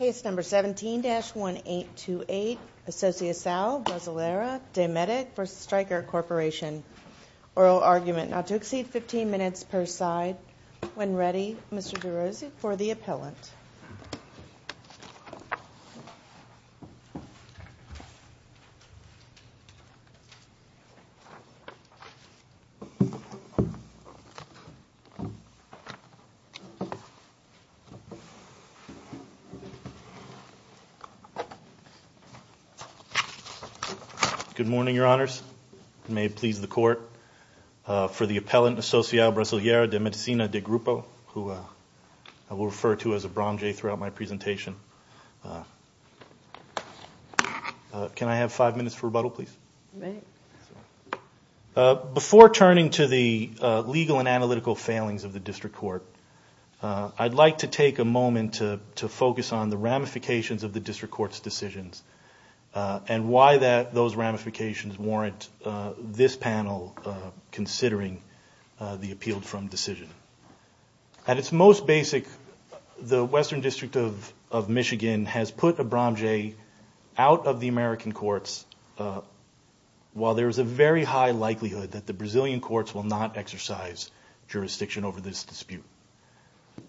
Case number 17-1828 Associacao Brasileira de Medic v. Stryker Corporation Oral argument not to exceed 15 minutes per side. When ready, Mr. DeRose for the appellant. Good morning, Your Honors. May it please the Court, for the appellant Associao Brasileira de Medicina de Grupo, who I will refer to as a Bronjay throughout my presentation. Can I have five minutes for rebuttal, please? Before turning to the legal and analytical failings of the District Court, I'd like to take a moment to focus on the ramifications of the District Court's decisions and why those ramifications warrant this panel considering the appealed from decision. At its most basic, the Western District of Michigan has put a Bronjay out of the American courts while there is a very high likelihood that the Brazilian courts will not exercise jurisdiction over this dispute.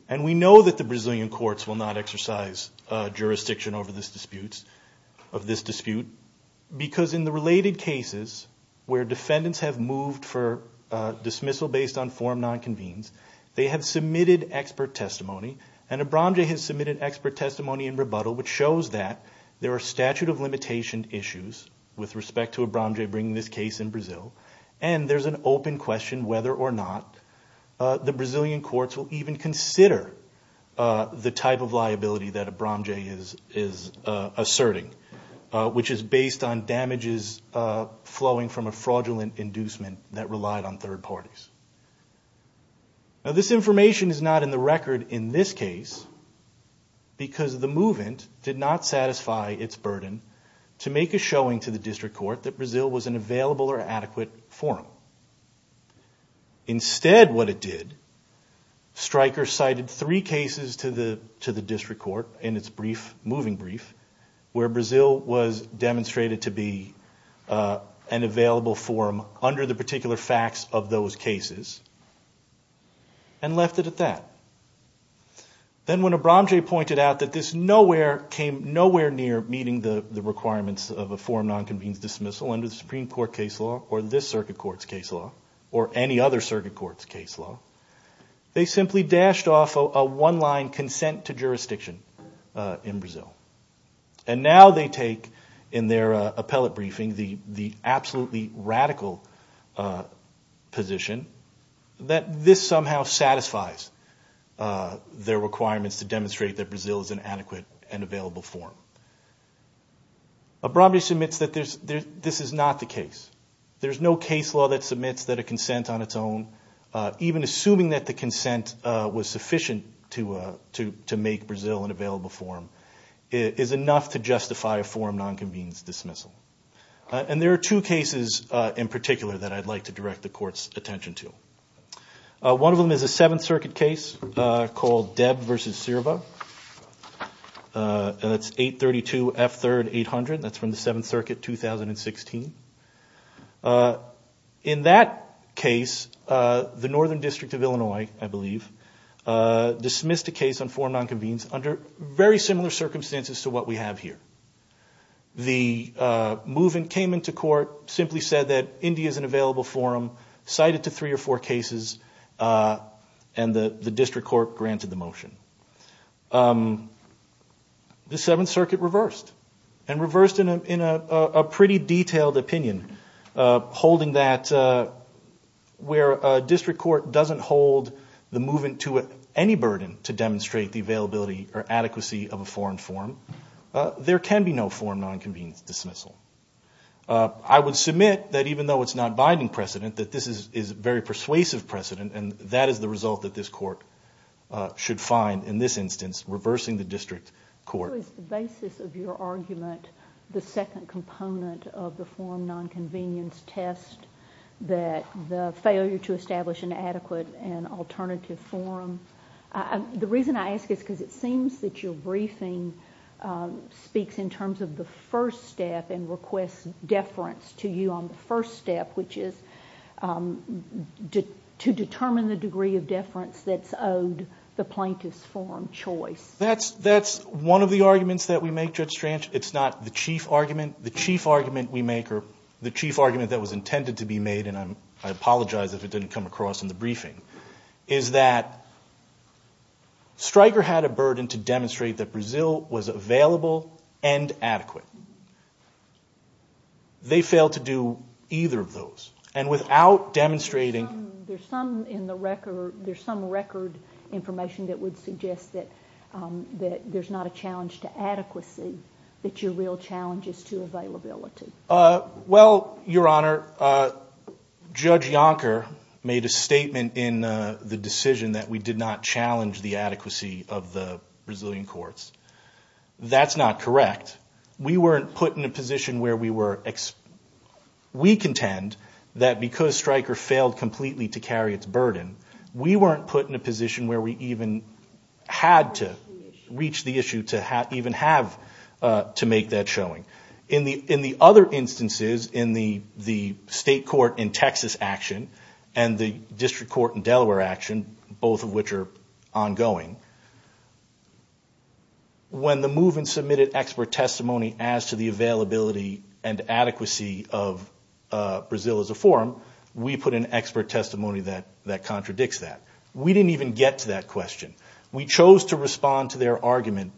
And we know that the Brazilian courts will not exercise jurisdiction over this dispute because in the related cases where defendants have moved for dismissal based on form nonconvenes, they have submitted expert testimony in rebuttal which shows that there are statute of limitation issues with respect to a Bronjay bringing this case in Brazil, and there's an open question whether or not the Brazilian courts will even consider the type of liability that a Bronjay is asserting, which is based on damages flowing from a fraudulent inducement that relied on third parties. Now this information is not in the record in this case because the move-in did not satisfy its burden to make a showing to the District Court that Brazil was an available or adequate forum. Instead what it did, Stryker cited three cases to the District Court in its moving brief where Brazil was demonstrated to be an available forum under the particular facts of those cases. And left it at that. Then when a Bronjay pointed out that this came nowhere near meeting the requirements of a form nonconvenes dismissal under the Supreme Court case law or this circuit court's case law or any other circuit court's case law, they simply dashed off a one-line consent to jurisdiction in Brazil. And now they take in their appellate briefing the somehow satisfies their requirements to demonstrate that Brazil is an adequate and available forum. A Bronjay submits that this is not the case. There's no case law that submits that a consent on its own, even assuming that the consent was sufficient to make Brazil an available forum, is enough to justify a forum nonconvenes dismissal. And there are two cases in particular that I'd like to mention. One of them is a Seventh Circuit case called Debb versus Sirva. And that's 832 F3rd 800. That's from the Seventh Circuit 2016. In that case, the Northern District of Illinois, I believe, dismissed a case on forum nonconvenes under very similar cases, and the district court granted the motion. The Seventh Circuit reversed, and reversed in a pretty detailed opinion, holding that where a district court doesn't hold the movement to any burden to demonstrate the availability or adequacy of a foreign forum, there can be no forum nonconvenes dismissal. I would submit that even though it's not binding precedent, that this is very persuasive precedent, and that is the result that this court should find in this instance, reversing the district court. Is the basis of your argument the second component of the forum nonconvenience test, that the failure to establish an adequate and and request deference to you on the first step, which is to determine the degree of deference that's owed the plaintiff's forum choice? That's one of the arguments that we make, Judge Strange. It's not the chief argument. The chief argument we make, or the chief argument that was intended to be made, and I apologize if it didn't come across in the briefing, is that Stryker had a burden to demonstrate that Brazil was available and adequate. They failed to do either of those, and without demonstrating... There's some record information that would suggest that there's not a challenge to adequacy, that your real challenge is to availability. Well, Your Honor, Judge Yonker made a statement in the decision that we did not challenge the adequacy of the Brazilian courts. That's not correct. We weren't put in a position where we were... We contend that because Stryker failed completely to carry its burden, we weren't put in a position where we even had to reach the issue to even have to make that showing. In the other instances, in the state court in Texas action, and the district court in Delaware action, both of which are ongoing, when the movement submitted expert testimony as to the availability and adequacy of Brazil as a forum, we put in expert testimony that contradicts that. We didn't even get to that question. We chose to respond to their argument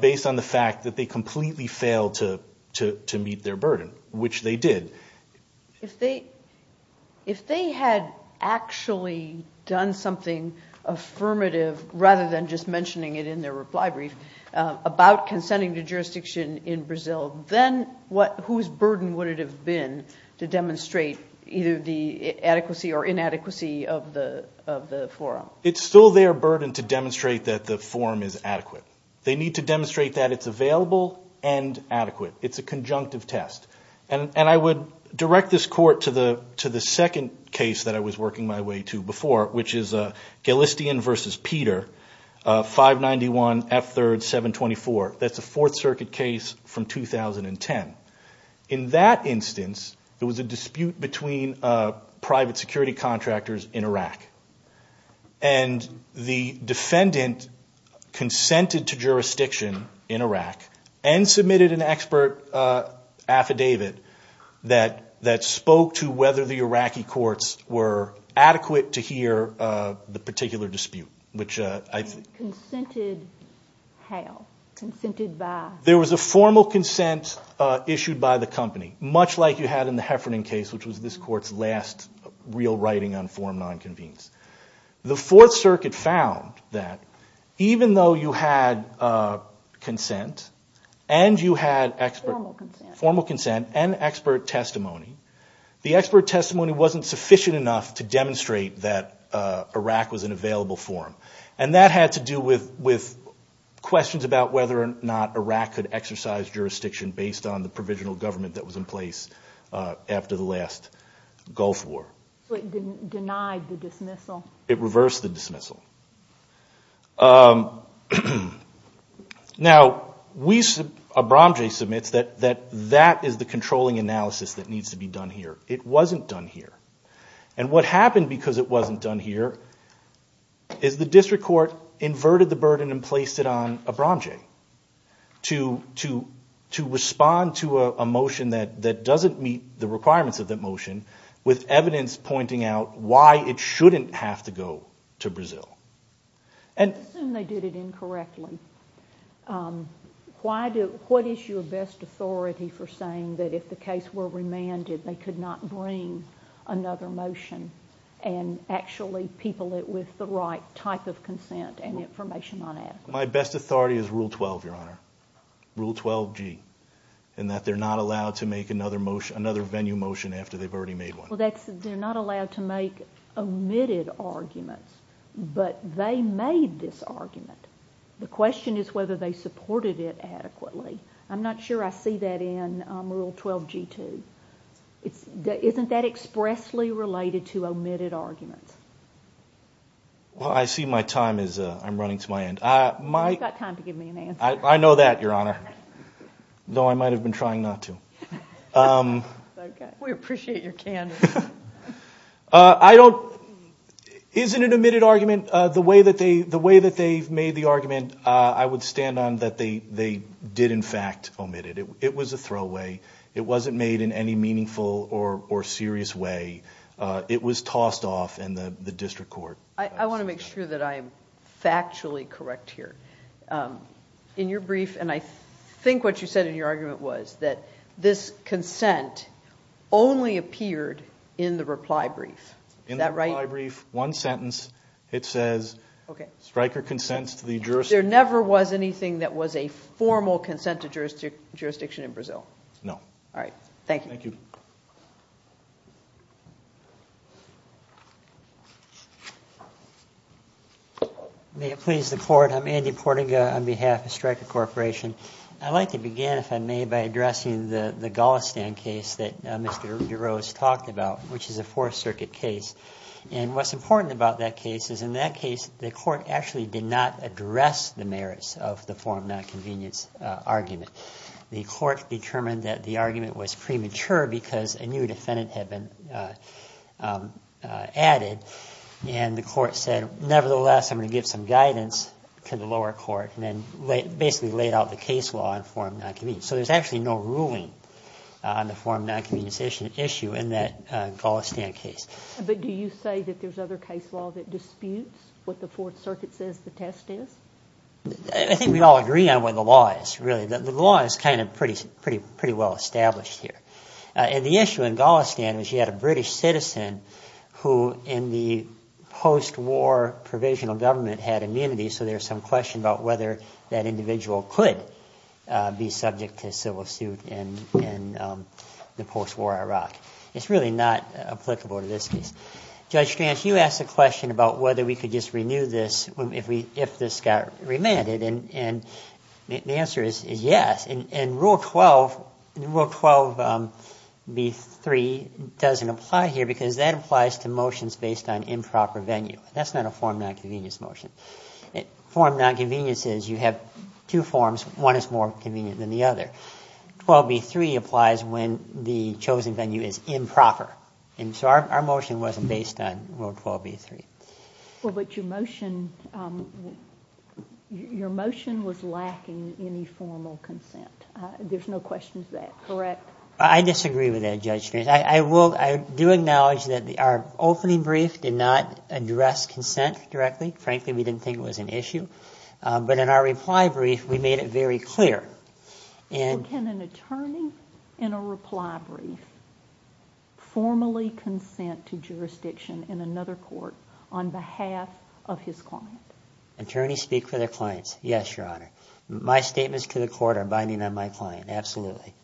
based on the fact that they completely failed to meet their burden, which they did. If they had actually done something affirmative, rather than just mentioning it in their reply brief, about consenting to jurisdiction in Brazil, then whose burden would it have been to demonstrate either the adequacy or inadequacy of the forum? It's still their burden to demonstrate that the forum is adequate. They need to demonstrate that it's available and adequate. It's a conjunctive test. And I would direct this Court to the second case that I was working my way to before, which is Galistian v. Peter, 591 F3rd 724. That's a Fourth Circuit case from 2010. In that instance, there was a dispute between private security contractors in Iraq. And the defendant consented to jurisdiction in Iraq and submitted an expert affidavit that spoke to whether the Iraqi courts were adequate to hear the particular dispute. Consented how? Consented by? There was a formal consent issued by the company, much like you had in the Heffernan case, which was this Court's last real writing on forum nonconvenience. The Fourth Circuit found that even though you had consent and you had expert formal consent and expert testimony, the expert testimony wasn't sufficient enough to demonstrate that Iraq was an available forum. And that had to do with questions about whether or not Iraq could exercise jurisdiction based on the provisional government that was in place after the last Gulf War. So it denied the dismissal? It reversed the dismissal. Now, Abramje submits that that is the controlling analysis that needs to be done here. It wasn't done here. And what happened because it wasn't done here is the district court inverted the burden and placed it on Abramje to respond to a motion that doesn't meet the requirements of that motion with evidence pointing out why it shouldn't have to go to Brazil. Let's assume they did it incorrectly. What is your best authority for saying that if the case were remanded they could not bring another motion and actually people it with the right type of consent and information on it? My best authority is Rule 12, Your Honor, Rule 12G, in that they're not allowed to make another venue motion after they've already made one. Well, they're not allowed to make omitted arguments, but they made this argument. The question is whether they supported it adequately. I'm not sure I see that in Rule 12G-2. Isn't that expressly related to omitted arguments? Well, I see my time is running to my end. You've got time to give me an answer. I know that, Your Honor, though I might have been trying not to. We appreciate your candor. Isn't an omitted argument, the way that they've made the argument, I would stand on that they did in fact omit it. It was a throwaway. It wasn't made in any meaningful or serious way. It was tossed off in the district court. I want to make sure that I'm factually correct here. In your brief, and I think what you said in your argument was that this consent only appeared in the reply brief. Is that right? In the reply brief, one sentence, it says striker consents to the jurisdiction. There never was anything that was a formal consent to jurisdiction in Brazil? No. All right. Thank you. Thank you. May it please the Court. I'm Andy Portiga on behalf of Striker Corporation. I'd like to begin, if I may, by addressing the Golistan case that Mr. DeRose talked about, which is a Fourth Circuit case. And what's important about that case is in that case, the court actually did not address the merits of the form of nonconvenience argument. The court determined that the argument was premature because a new defendant had been added, and the court said, nevertheless, I'm going to give some guidance to the lower court, and then basically laid out the case law in form of nonconvenience. So there's actually no ruling on the form of nonconvenience issue in that Golistan case. But do you say that there's other case law that disputes what the Fourth Circuit says the test is? I think we all agree on what the law is, really. The law is kind of pretty well established here. And the issue in Golistan was you had a British citizen who in the post-war provisional government had immunity, so there's some question about whether that individual could be subject to civil suit in the post-war Iraq. It's really not applicable to this case. Judge Stranch, you asked a question about whether we could just renew this if this got remanded, and the answer is yes. And Rule 12B3 doesn't apply here because that applies to motions based on improper venue. That's not a form of nonconvenience motion. Form of nonconvenience is you have two forms. One is more convenient than the other. 12B3 applies when the chosen venue is improper. And so our motion wasn't based on Rule 12B3. Well, but your motion was lacking any formal consent. There's no question of that, correct? I disagree with that, Judge Stranch. I do acknowledge that our opening brief did not address consent directly. Frankly, we didn't think it was an issue. But in our reply brief, we made it very clear. Can an attorney in a reply brief formally consent to jurisdiction in another court on behalf of his client? Attorneys speak for their clients. Yes, Your Honor. My statements to the court are binding on my client, absolutely.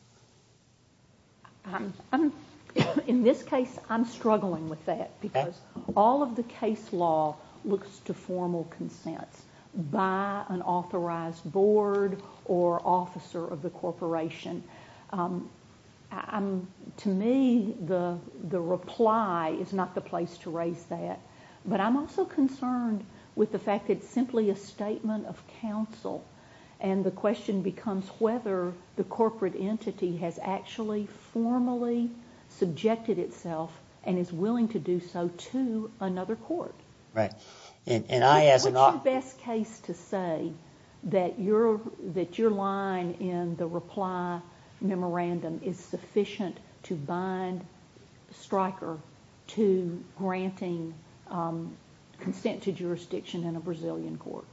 In this case, I'm struggling with that because all of the case law looks to formal consents by an authorized board or officer of the corporation. To me, the reply is not the place to raise that. But I'm also concerned with the fact that it's simply a statement of counsel and the question becomes whether the corporate entity has actually formally subjected itself and is willing to do so to another court. Right. What's your best case to say that your line in the reply memorandum is sufficient to bind Stryker to granting consent to jurisdiction in a Brazilian court?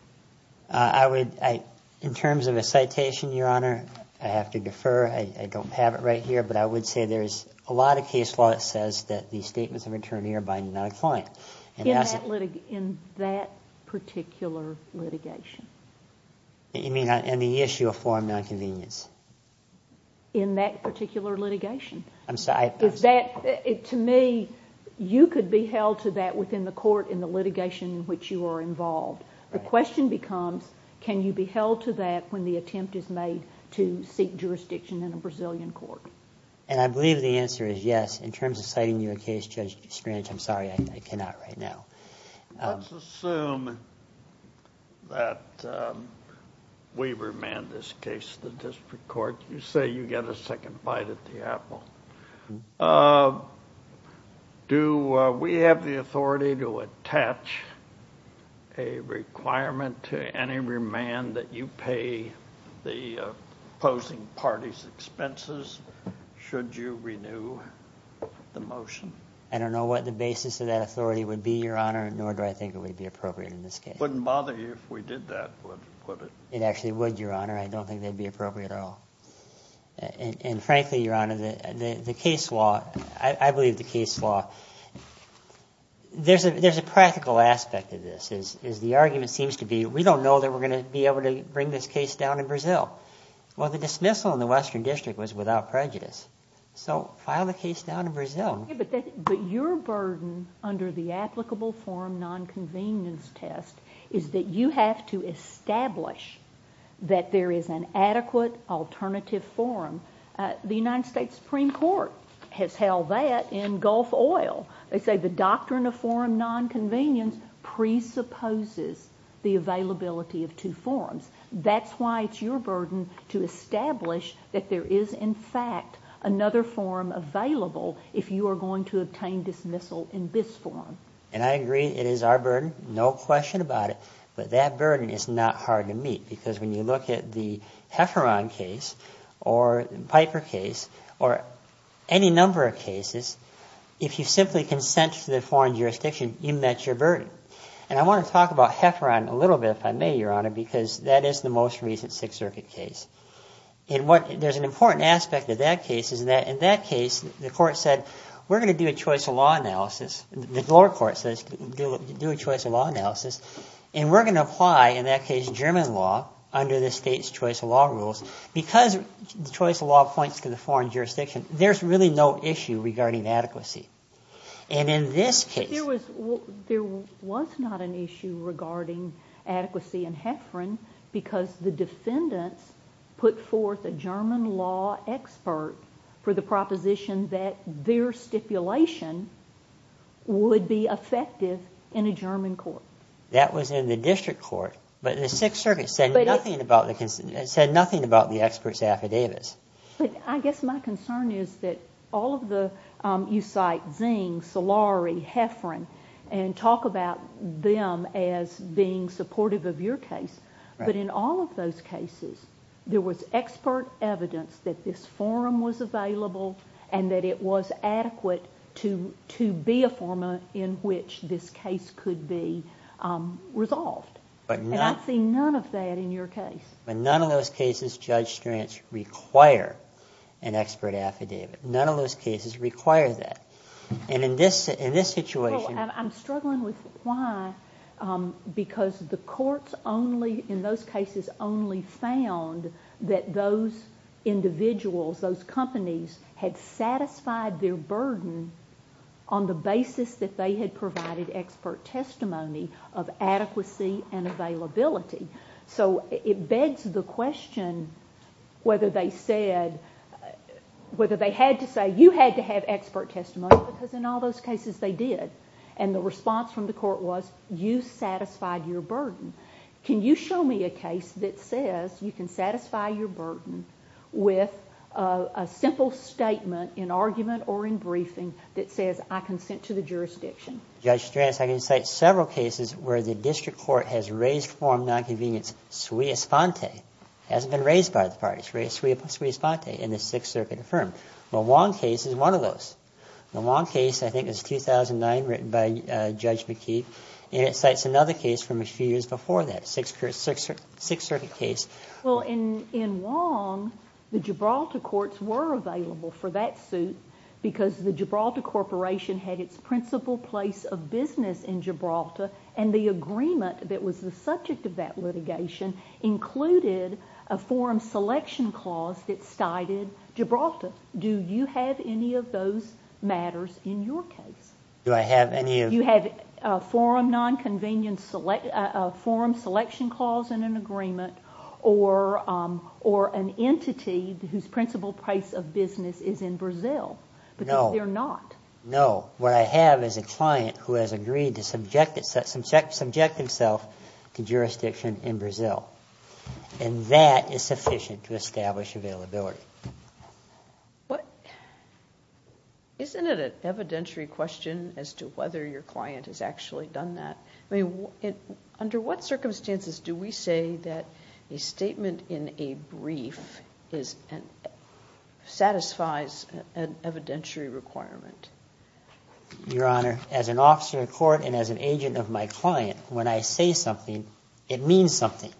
In terms of a citation, Your Honor, I have to defer. I don't have it right here. But I would say there's a lot of case law that says that the statements of attorney are binding on a client. In that particular litigation? You mean on the issue of foreign nonconvenience? In that particular litigation? I'm sorry. To me, you could be held to that within the court in the litigation in which you are involved. The question becomes can you be held to that when the attempt is made to seek jurisdiction in a Brazilian court? And I believe the answer is yes. In terms of citing you a case, Judge Strange, I'm sorry, I cannot right now. Let's assume that we remand this case to the district court. You say you get a second bite at the apple. Do we have the authority to attach a requirement to any remand that you pay the opposing party's expenses should you renew the motion? I don't know what the basis of that authority would be, Your Honor, nor do I think it would be appropriate in this case. It wouldn't bother you if we did that, would it? It actually would, Your Honor. I don't think that would be appropriate at all. And frankly, Your Honor, the case law, I believe the case law, there's a practical aspect of this. The argument seems to be we don't know that we're going to be able to bring this case down in Brazil. Well, the dismissal in the Western District was without prejudice. But your burden under the applicable forum nonconvenience test is that you have to establish that there is an adequate alternative forum. The United States Supreme Court has held that in Gulf Oil. They say the doctrine of forum nonconvenience presupposes the availability of two forums. That's why it's your burden to establish that there is, in fact, another forum available if you are going to obtain dismissal in this forum. And I agree it is our burden, no question about it. But that burden is not hard to meet because when you look at the Hefferon case or Piper case or any number of cases, if you simply consent to the foreign jurisdiction, you met your burden. And I want to talk about Hefferon a little bit, if I may, Your Honor, because that is the most recent Sixth Circuit case. And there's an important aspect of that case is that in that case, the court said we're going to do a choice of law analysis. The lower court says do a choice of law analysis. And we're going to apply, in that case, German law under the state's choice of law rules. Because the choice of law points to the foreign jurisdiction, there's really no issue regarding adequacy. But there was not an issue regarding adequacy in Hefferon because the defendants put forth a German law expert for the proposition that their stipulation would be effective in a German court. That was in the district court. But the Sixth Circuit said nothing about the expert's affidavits. But I guess my concern is that all of the – you cite Zing, Solari, Hefferon, and talk about them as being supportive of your case. But in all of those cases, there was expert evidence that this forum was available and that it was adequate to be a forum in which this case could be resolved. And I see none of that in your case. In none of those cases, Judge Stranz required an expert affidavit. None of those cases require that. And in this situation – Well, I'm struggling with why, because the courts only – in those cases, only found that those individuals, those companies, had satisfied their burden on the basis that they had provided expert testimony of adequacy and availability. So it begs the question whether they said – whether they had to say, you had to have expert testimony, because in all those cases, they did. And the response from the court was, you satisfied your burden. Can you show me a case that says you can satisfy your burden with a simple statement in argument or in briefing that says, I consent to the jurisdiction? Judge Stranz, I can cite several cases where the district court has raised forum nonconvenience. Sui Esponte hasn't been raised by the parties. Sui Esponte in the Sixth Circuit affirmed. The Wong case is one of those. The Wong case, I think, is 2009, written by Judge McKee. And it cites another case from a few years before that, Sixth Circuit case. Well, in Wong, the Gibraltar courts were available for that suit because the Gibraltar Corporation had its principal place of business in Gibraltar, and the agreement that was the subject of that litigation included a forum selection clause that cited Gibraltar. Do you have any of those matters in your case? Do I have any of – You have a forum nonconvenience – a forum selection clause in an agreement or an entity whose principal place of business is in Brazil. No. Because they're not. No. What I have is a client who has agreed to subject himself to jurisdiction in Brazil. And that is sufficient to establish availability. Isn't it an evidentiary question as to whether your client has actually done that? I mean, under what circumstances do we say that a statement in a brief satisfies an evidentiary requirement? Your Honor, as an officer of court and as an agent of my client, when I say something, it means something.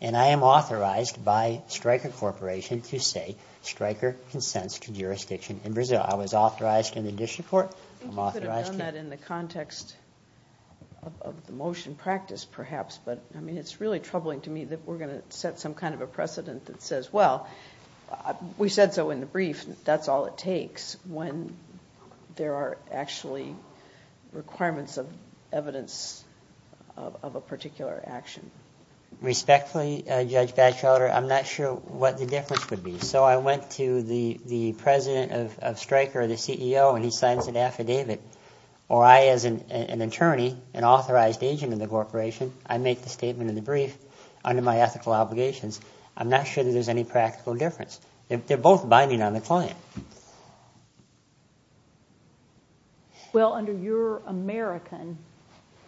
And I am authorized by Stryker Corporation to say Stryker consents to jurisdiction in Brazil. I was authorized in the district court. I think you could have done that in the context of the motion practice, perhaps. But, I mean, it's really troubling to me that we're going to set some kind of a precedent that says, well, we said so in the brief. That's all it takes when there are actually requirements of evidence of a particular action. Respectfully, Judge Batchelder, I'm not sure what the difference would be. So I went to the president of Stryker, the CEO, and he signs an affidavit. Or I, as an attorney, an authorized agent in the corporation, I make the statement in the brief under my ethical obligations. I'm not sure that there's any practical difference. They're both binding on the client. Well, under your American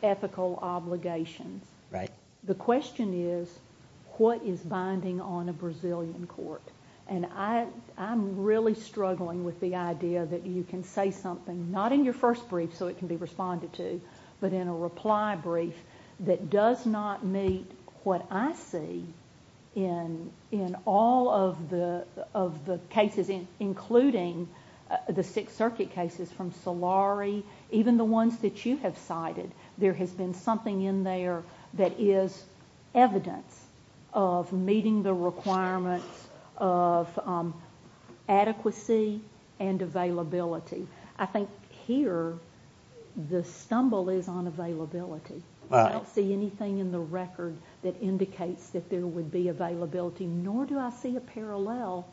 ethical obligations, the question is, what is binding on a Brazilian court? And I'm really struggling with the idea that you can say something, not in your first brief so it can be responded to, but in a reply brief that does not meet what I see in all of the cases, including the Sixth Circuit cases from Solari, even the ones that you have cited. There has been something in there that is evidence of meeting the requirements of adequacy and availability. I think here the stumble is on availability. I don't see anything in the record that indicates that there would be availability, nor do I see a parallel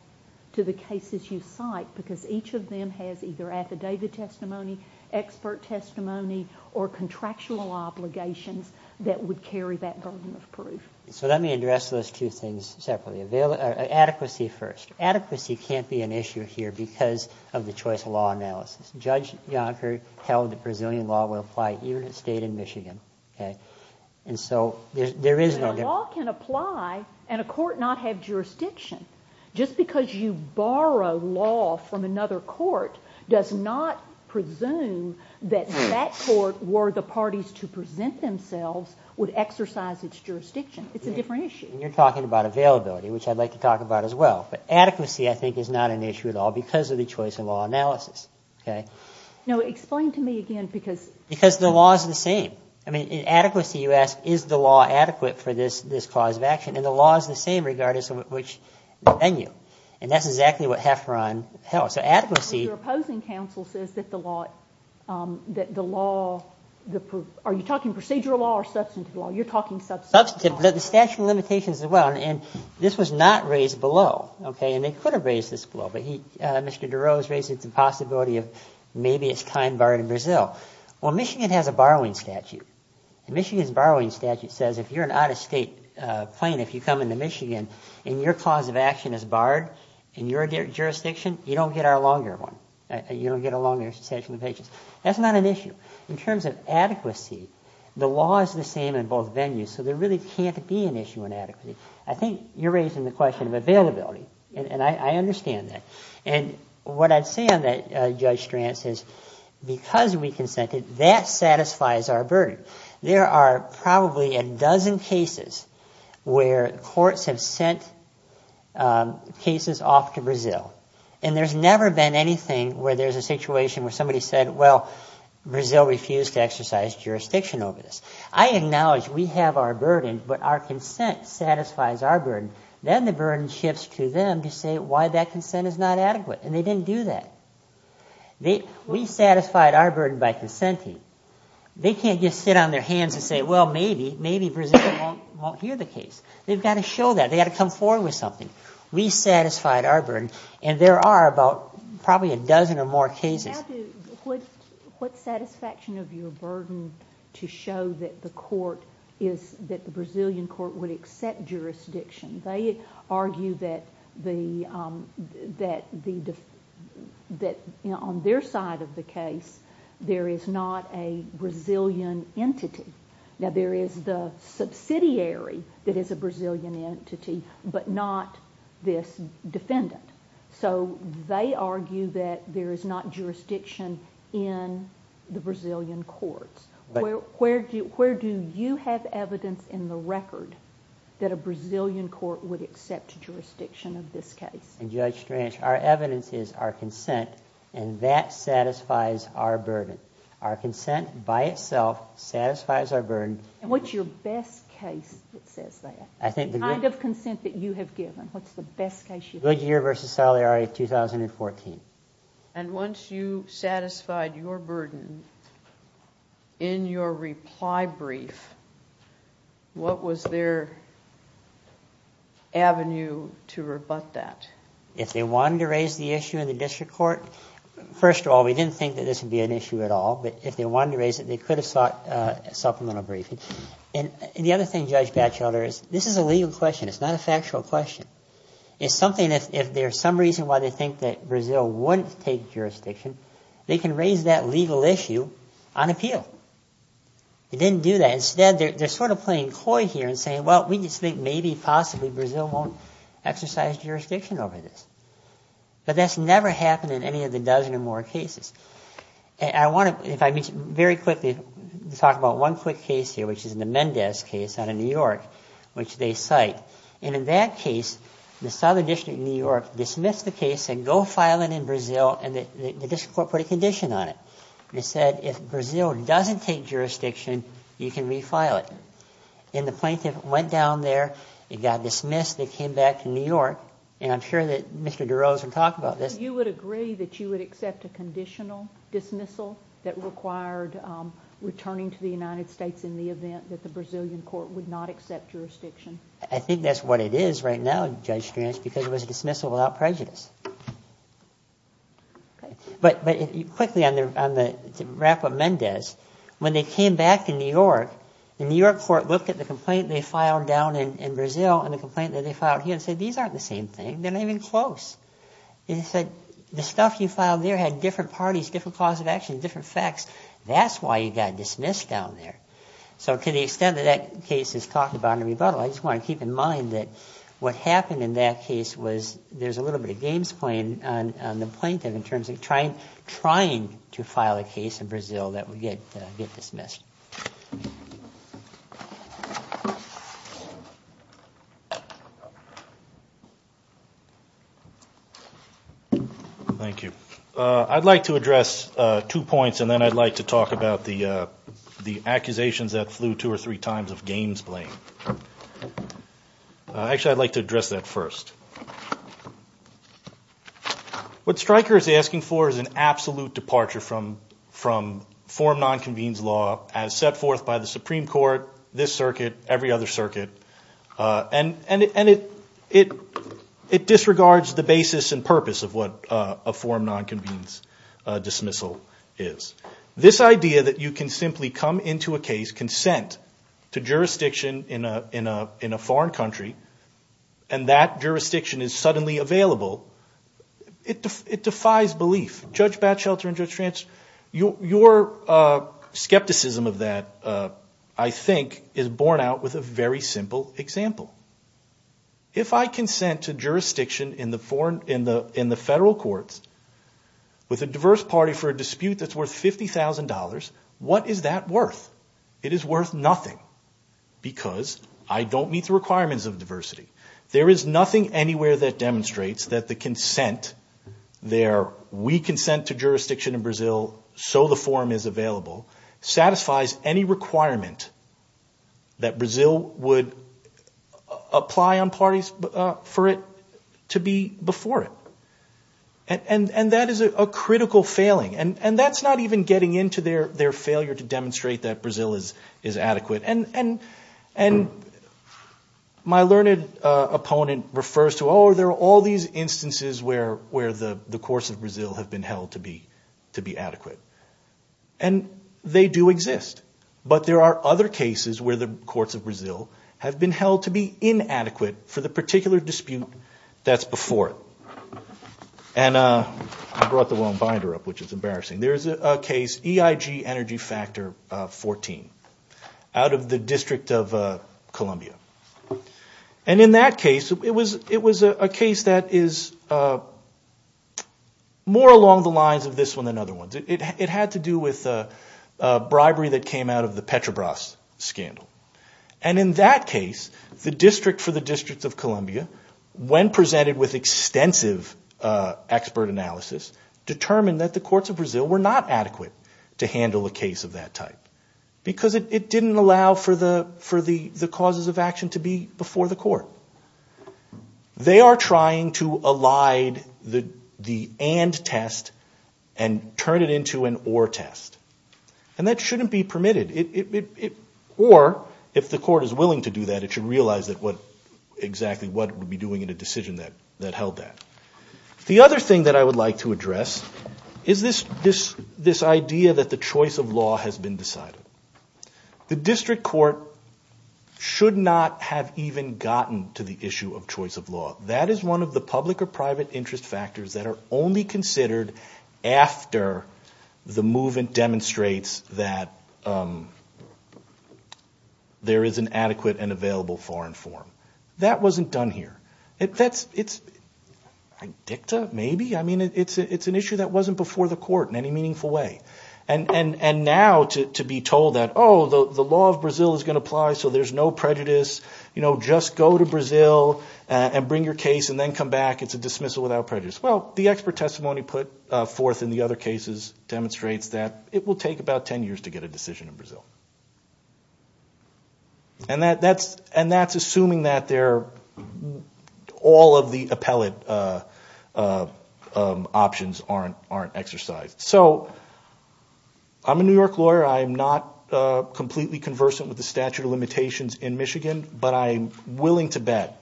to the cases you cite because each of them has either affidavit testimony, expert testimony, or contractual obligations that would carry that burden of proof. So let me address those two things separately. Adequacy first. Adequacy can't be an issue here because of the choice of law analysis. Judge Yonker held that Brazilian law would apply even in a state in Michigan. And so there is no difference. But a law can apply and a court not have jurisdiction. Just because you borrow law from another court does not presume that that court, were the parties to present themselves, would exercise its jurisdiction. It's a different issue. And you're talking about availability, which I'd like to talk about as well. But adequacy, I think, is not an issue at all because of the choice of law analysis. Okay? No, explain to me again because. Because the law is the same. I mean, in adequacy, you ask, is the law adequate for this cause of action? And the law is the same regardless of which venue. And that's exactly what Hefferon held. So adequacy. Your opposing counsel says that the law, that the law, are you talking procedural law or substantive law? You're talking substantive law. Substantive. The statute of limitations as well. And this was not raised below. Okay? And they could have raised this below. But Mr. Durow has raised the possibility of maybe it's time barred in Brazil. Well, Michigan has a borrowing statute. And Michigan's borrowing statute says if you're an out-of-state plaintiff, you come into Michigan, and your cause of action is barred in your jurisdiction, you don't get our longer one. You don't get a longer statute of limitations. That's not an issue. In terms of adequacy, the law is the same in both venues. So there really can't be an issue in adequacy. I think you're raising the question of availability. And I understand that. And what I'd say on that, Judge Strantz, is because we consented, that satisfies our burden. There are probably a dozen cases where courts have sent cases off to Brazil. And there's never been anything where there's a situation where somebody said, well, Brazil refused to exercise jurisdiction over this. I acknowledge we have our burden, but our consent satisfies our burden. Then the burden shifts to them to say why that consent is not adequate. And they didn't do that. We satisfied our burden by consenting. They can't just sit on their hands and say, well, maybe Brazil won't hear the case. They've got to show that. They've got to come forward with something. We satisfied our burden. And there are about probably a dozen or more cases. What satisfaction of your burden to show that the Brazilian court would accept jurisdiction? They argue that on their side of the case, there is not a Brazilian entity. Now, there is the subsidiary that is a Brazilian entity, but not this defendant. So they argue that there is not jurisdiction in the Brazilian courts. Where do you have evidence in the record that a Brazilian court would accept jurisdiction of this case? And Judge Strange, our evidence is our consent, and that satisfies our burden. Our consent by itself satisfies our burden. And what's your best case that says that? The kind of consent that you have given, what's the best case you've given? Goodyear v. Salieri, 2014. And once you satisfied your burden in your reply brief, what was their avenue to rebut that? If they wanted to raise the issue in the district court, first of all, we didn't think that this would be an issue at all. But if they wanted to raise it, they could have sought supplemental briefing. And the other thing, Judge Batchelder, is this is a legal question. It's not a factual question. It's something that if there's some reason why they think that Brazil wouldn't take jurisdiction, they can raise that legal issue on appeal. They didn't do that. Instead, they're sort of playing coy here and saying, well, we just think maybe, possibly, Brazil won't exercise jurisdiction over this. But that's never happened in any of the dozen or more cases. And I want to, if I could, very quickly talk about one quick case here, which is the Mendez case out of New York, which they cite. And in that case, the Southern District of New York dismissed the case and said, go file it in Brazil, and the district court put a condition on it. They said, if Brazil doesn't take jurisdiction, you can refile it. And the plaintiff went down there. It got dismissed. They came back to New York. And I'm sure that Mr. DeRose will talk about this. You would agree that you would accept a conditional dismissal that required returning to the United States in the event that the Brazilian court would not accept jurisdiction? I think that's what it is right now, Judge Strange, because it was a dismissal without prejudice. But quickly, to wrap up Mendez, when they came back to New York, the New York court looked at the complaint they filed down in Brazil and the complaint that they filed here and said, these aren't the same thing. They're not even close. They said, the stuff you filed there had different parties, different cause of action, different facts. That's why you got dismissed down there. So to the extent that that case is talked about in a rebuttal, I just want to keep in mind that what happened in that case was there's a little bit of games playing on the plaintiff in terms of trying to file a case in Brazil that would get dismissed. Thank you. I'd like to address two points, and then I'd like to talk about the accusations that flew two or three times of games playing. Actually, I'd like to address that first. What Stryker is asking for is an absolute departure from forum non-convenes law as set forth by the Supreme Court, this circuit, every other circuit. And it disregards the basis and purpose of what a forum non-convenes dismissal is. This idea that you can simply come into a case, consent to jurisdiction in a foreign country, and that jurisdiction is suddenly available, it defies belief. Judge Batchelder and Judge Trance, your skepticism of that, I think, is borne out with a very simple example. If I consent to jurisdiction in the federal courts with a diverse party for a dispute that's worth $50,000, what is that worth? It is worth nothing, because I don't meet the requirements of diversity. There is nothing anywhere that demonstrates that the consent, their we consent to jurisdiction in Brazil, so the forum is available, satisfies any requirement that Brazil would apply on parties for it to be before it. And that is a critical failing. And that's not even getting into their failure to demonstrate that Brazil is adequate. And my learned opponent refers to, oh, there are all these instances where the courts of Brazil have been held to be adequate. And they do exist. But there are other cases where the courts of Brazil have been held to be inadequate for the particular dispute that's before it. And I brought the wrong binder up, which is embarrassing. There's a case, EIG Energy Factor 14, out of the District of Columbia. And in that case, it was a case that is more along the lines of this one than other ones. It had to do with bribery that came out of the Petrobras scandal. And in that case, the district for the District of Columbia, when presented with extensive expert analysis, determined that the courts of Brazil were not adequate to handle a case of that type. Because it didn't allow for the causes of action to be before the court. They are trying to elide the and test and turn it into an or test. And that shouldn't be permitted. Or, if the court is willing to do that, it should realize exactly what it would be doing in a decision that held that. The other thing that I would like to address is this idea that the choice of law has been decided. The district court should not have even gotten to the issue of choice of law. That is one of the public or private interest factors that are only considered after the movement demonstrates that there is an adequate and available foreign form. That wasn't done here. It's an issue that wasn't before the court in any meaningful way. And now to be told that the law of Brazil is going to apply so there's no prejudice, just go to Brazil and bring your case and then come back, it's a dismissal without prejudice. Well, the expert testimony put forth in the other cases demonstrates that it will take about 10 years to get a decision in Brazil. And that's assuming that all of the appellate options aren't exercised. So, I'm a New York lawyer. I'm not completely conversant with the statute of limitations in Michigan, but I'm willing to bet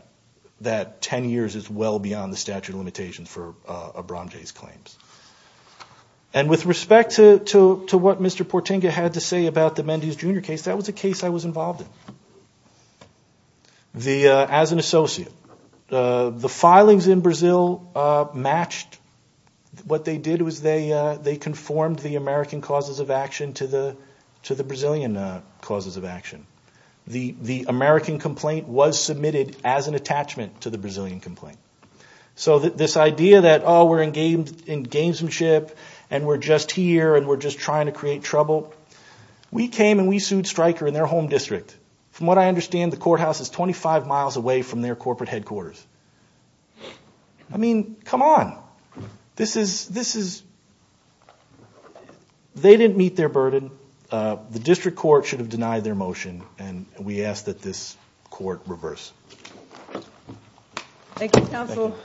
that 10 years is well beyond the statute of limitations for Abramge's claims. And with respect to what Mr. Portenga had to say about the Mendes Jr. case, that was a case I was involved in. As an associate, the filings in Brazil matched. What they did was they conformed the American causes of action to the Brazilian causes of action. The American complaint was submitted as an attachment to the Brazilian complaint. So this idea that, oh, we're in gamesmanship and we're just here and we're just trying to create trouble, we came and we sued Stryker in their home district, from what I understand the courthouse is 25 miles away from their corporate headquarters. I mean, come on. This is, they didn't meet their burden. The district court should have denied their motion, and we ask that this court reverse. Thank you, counsel.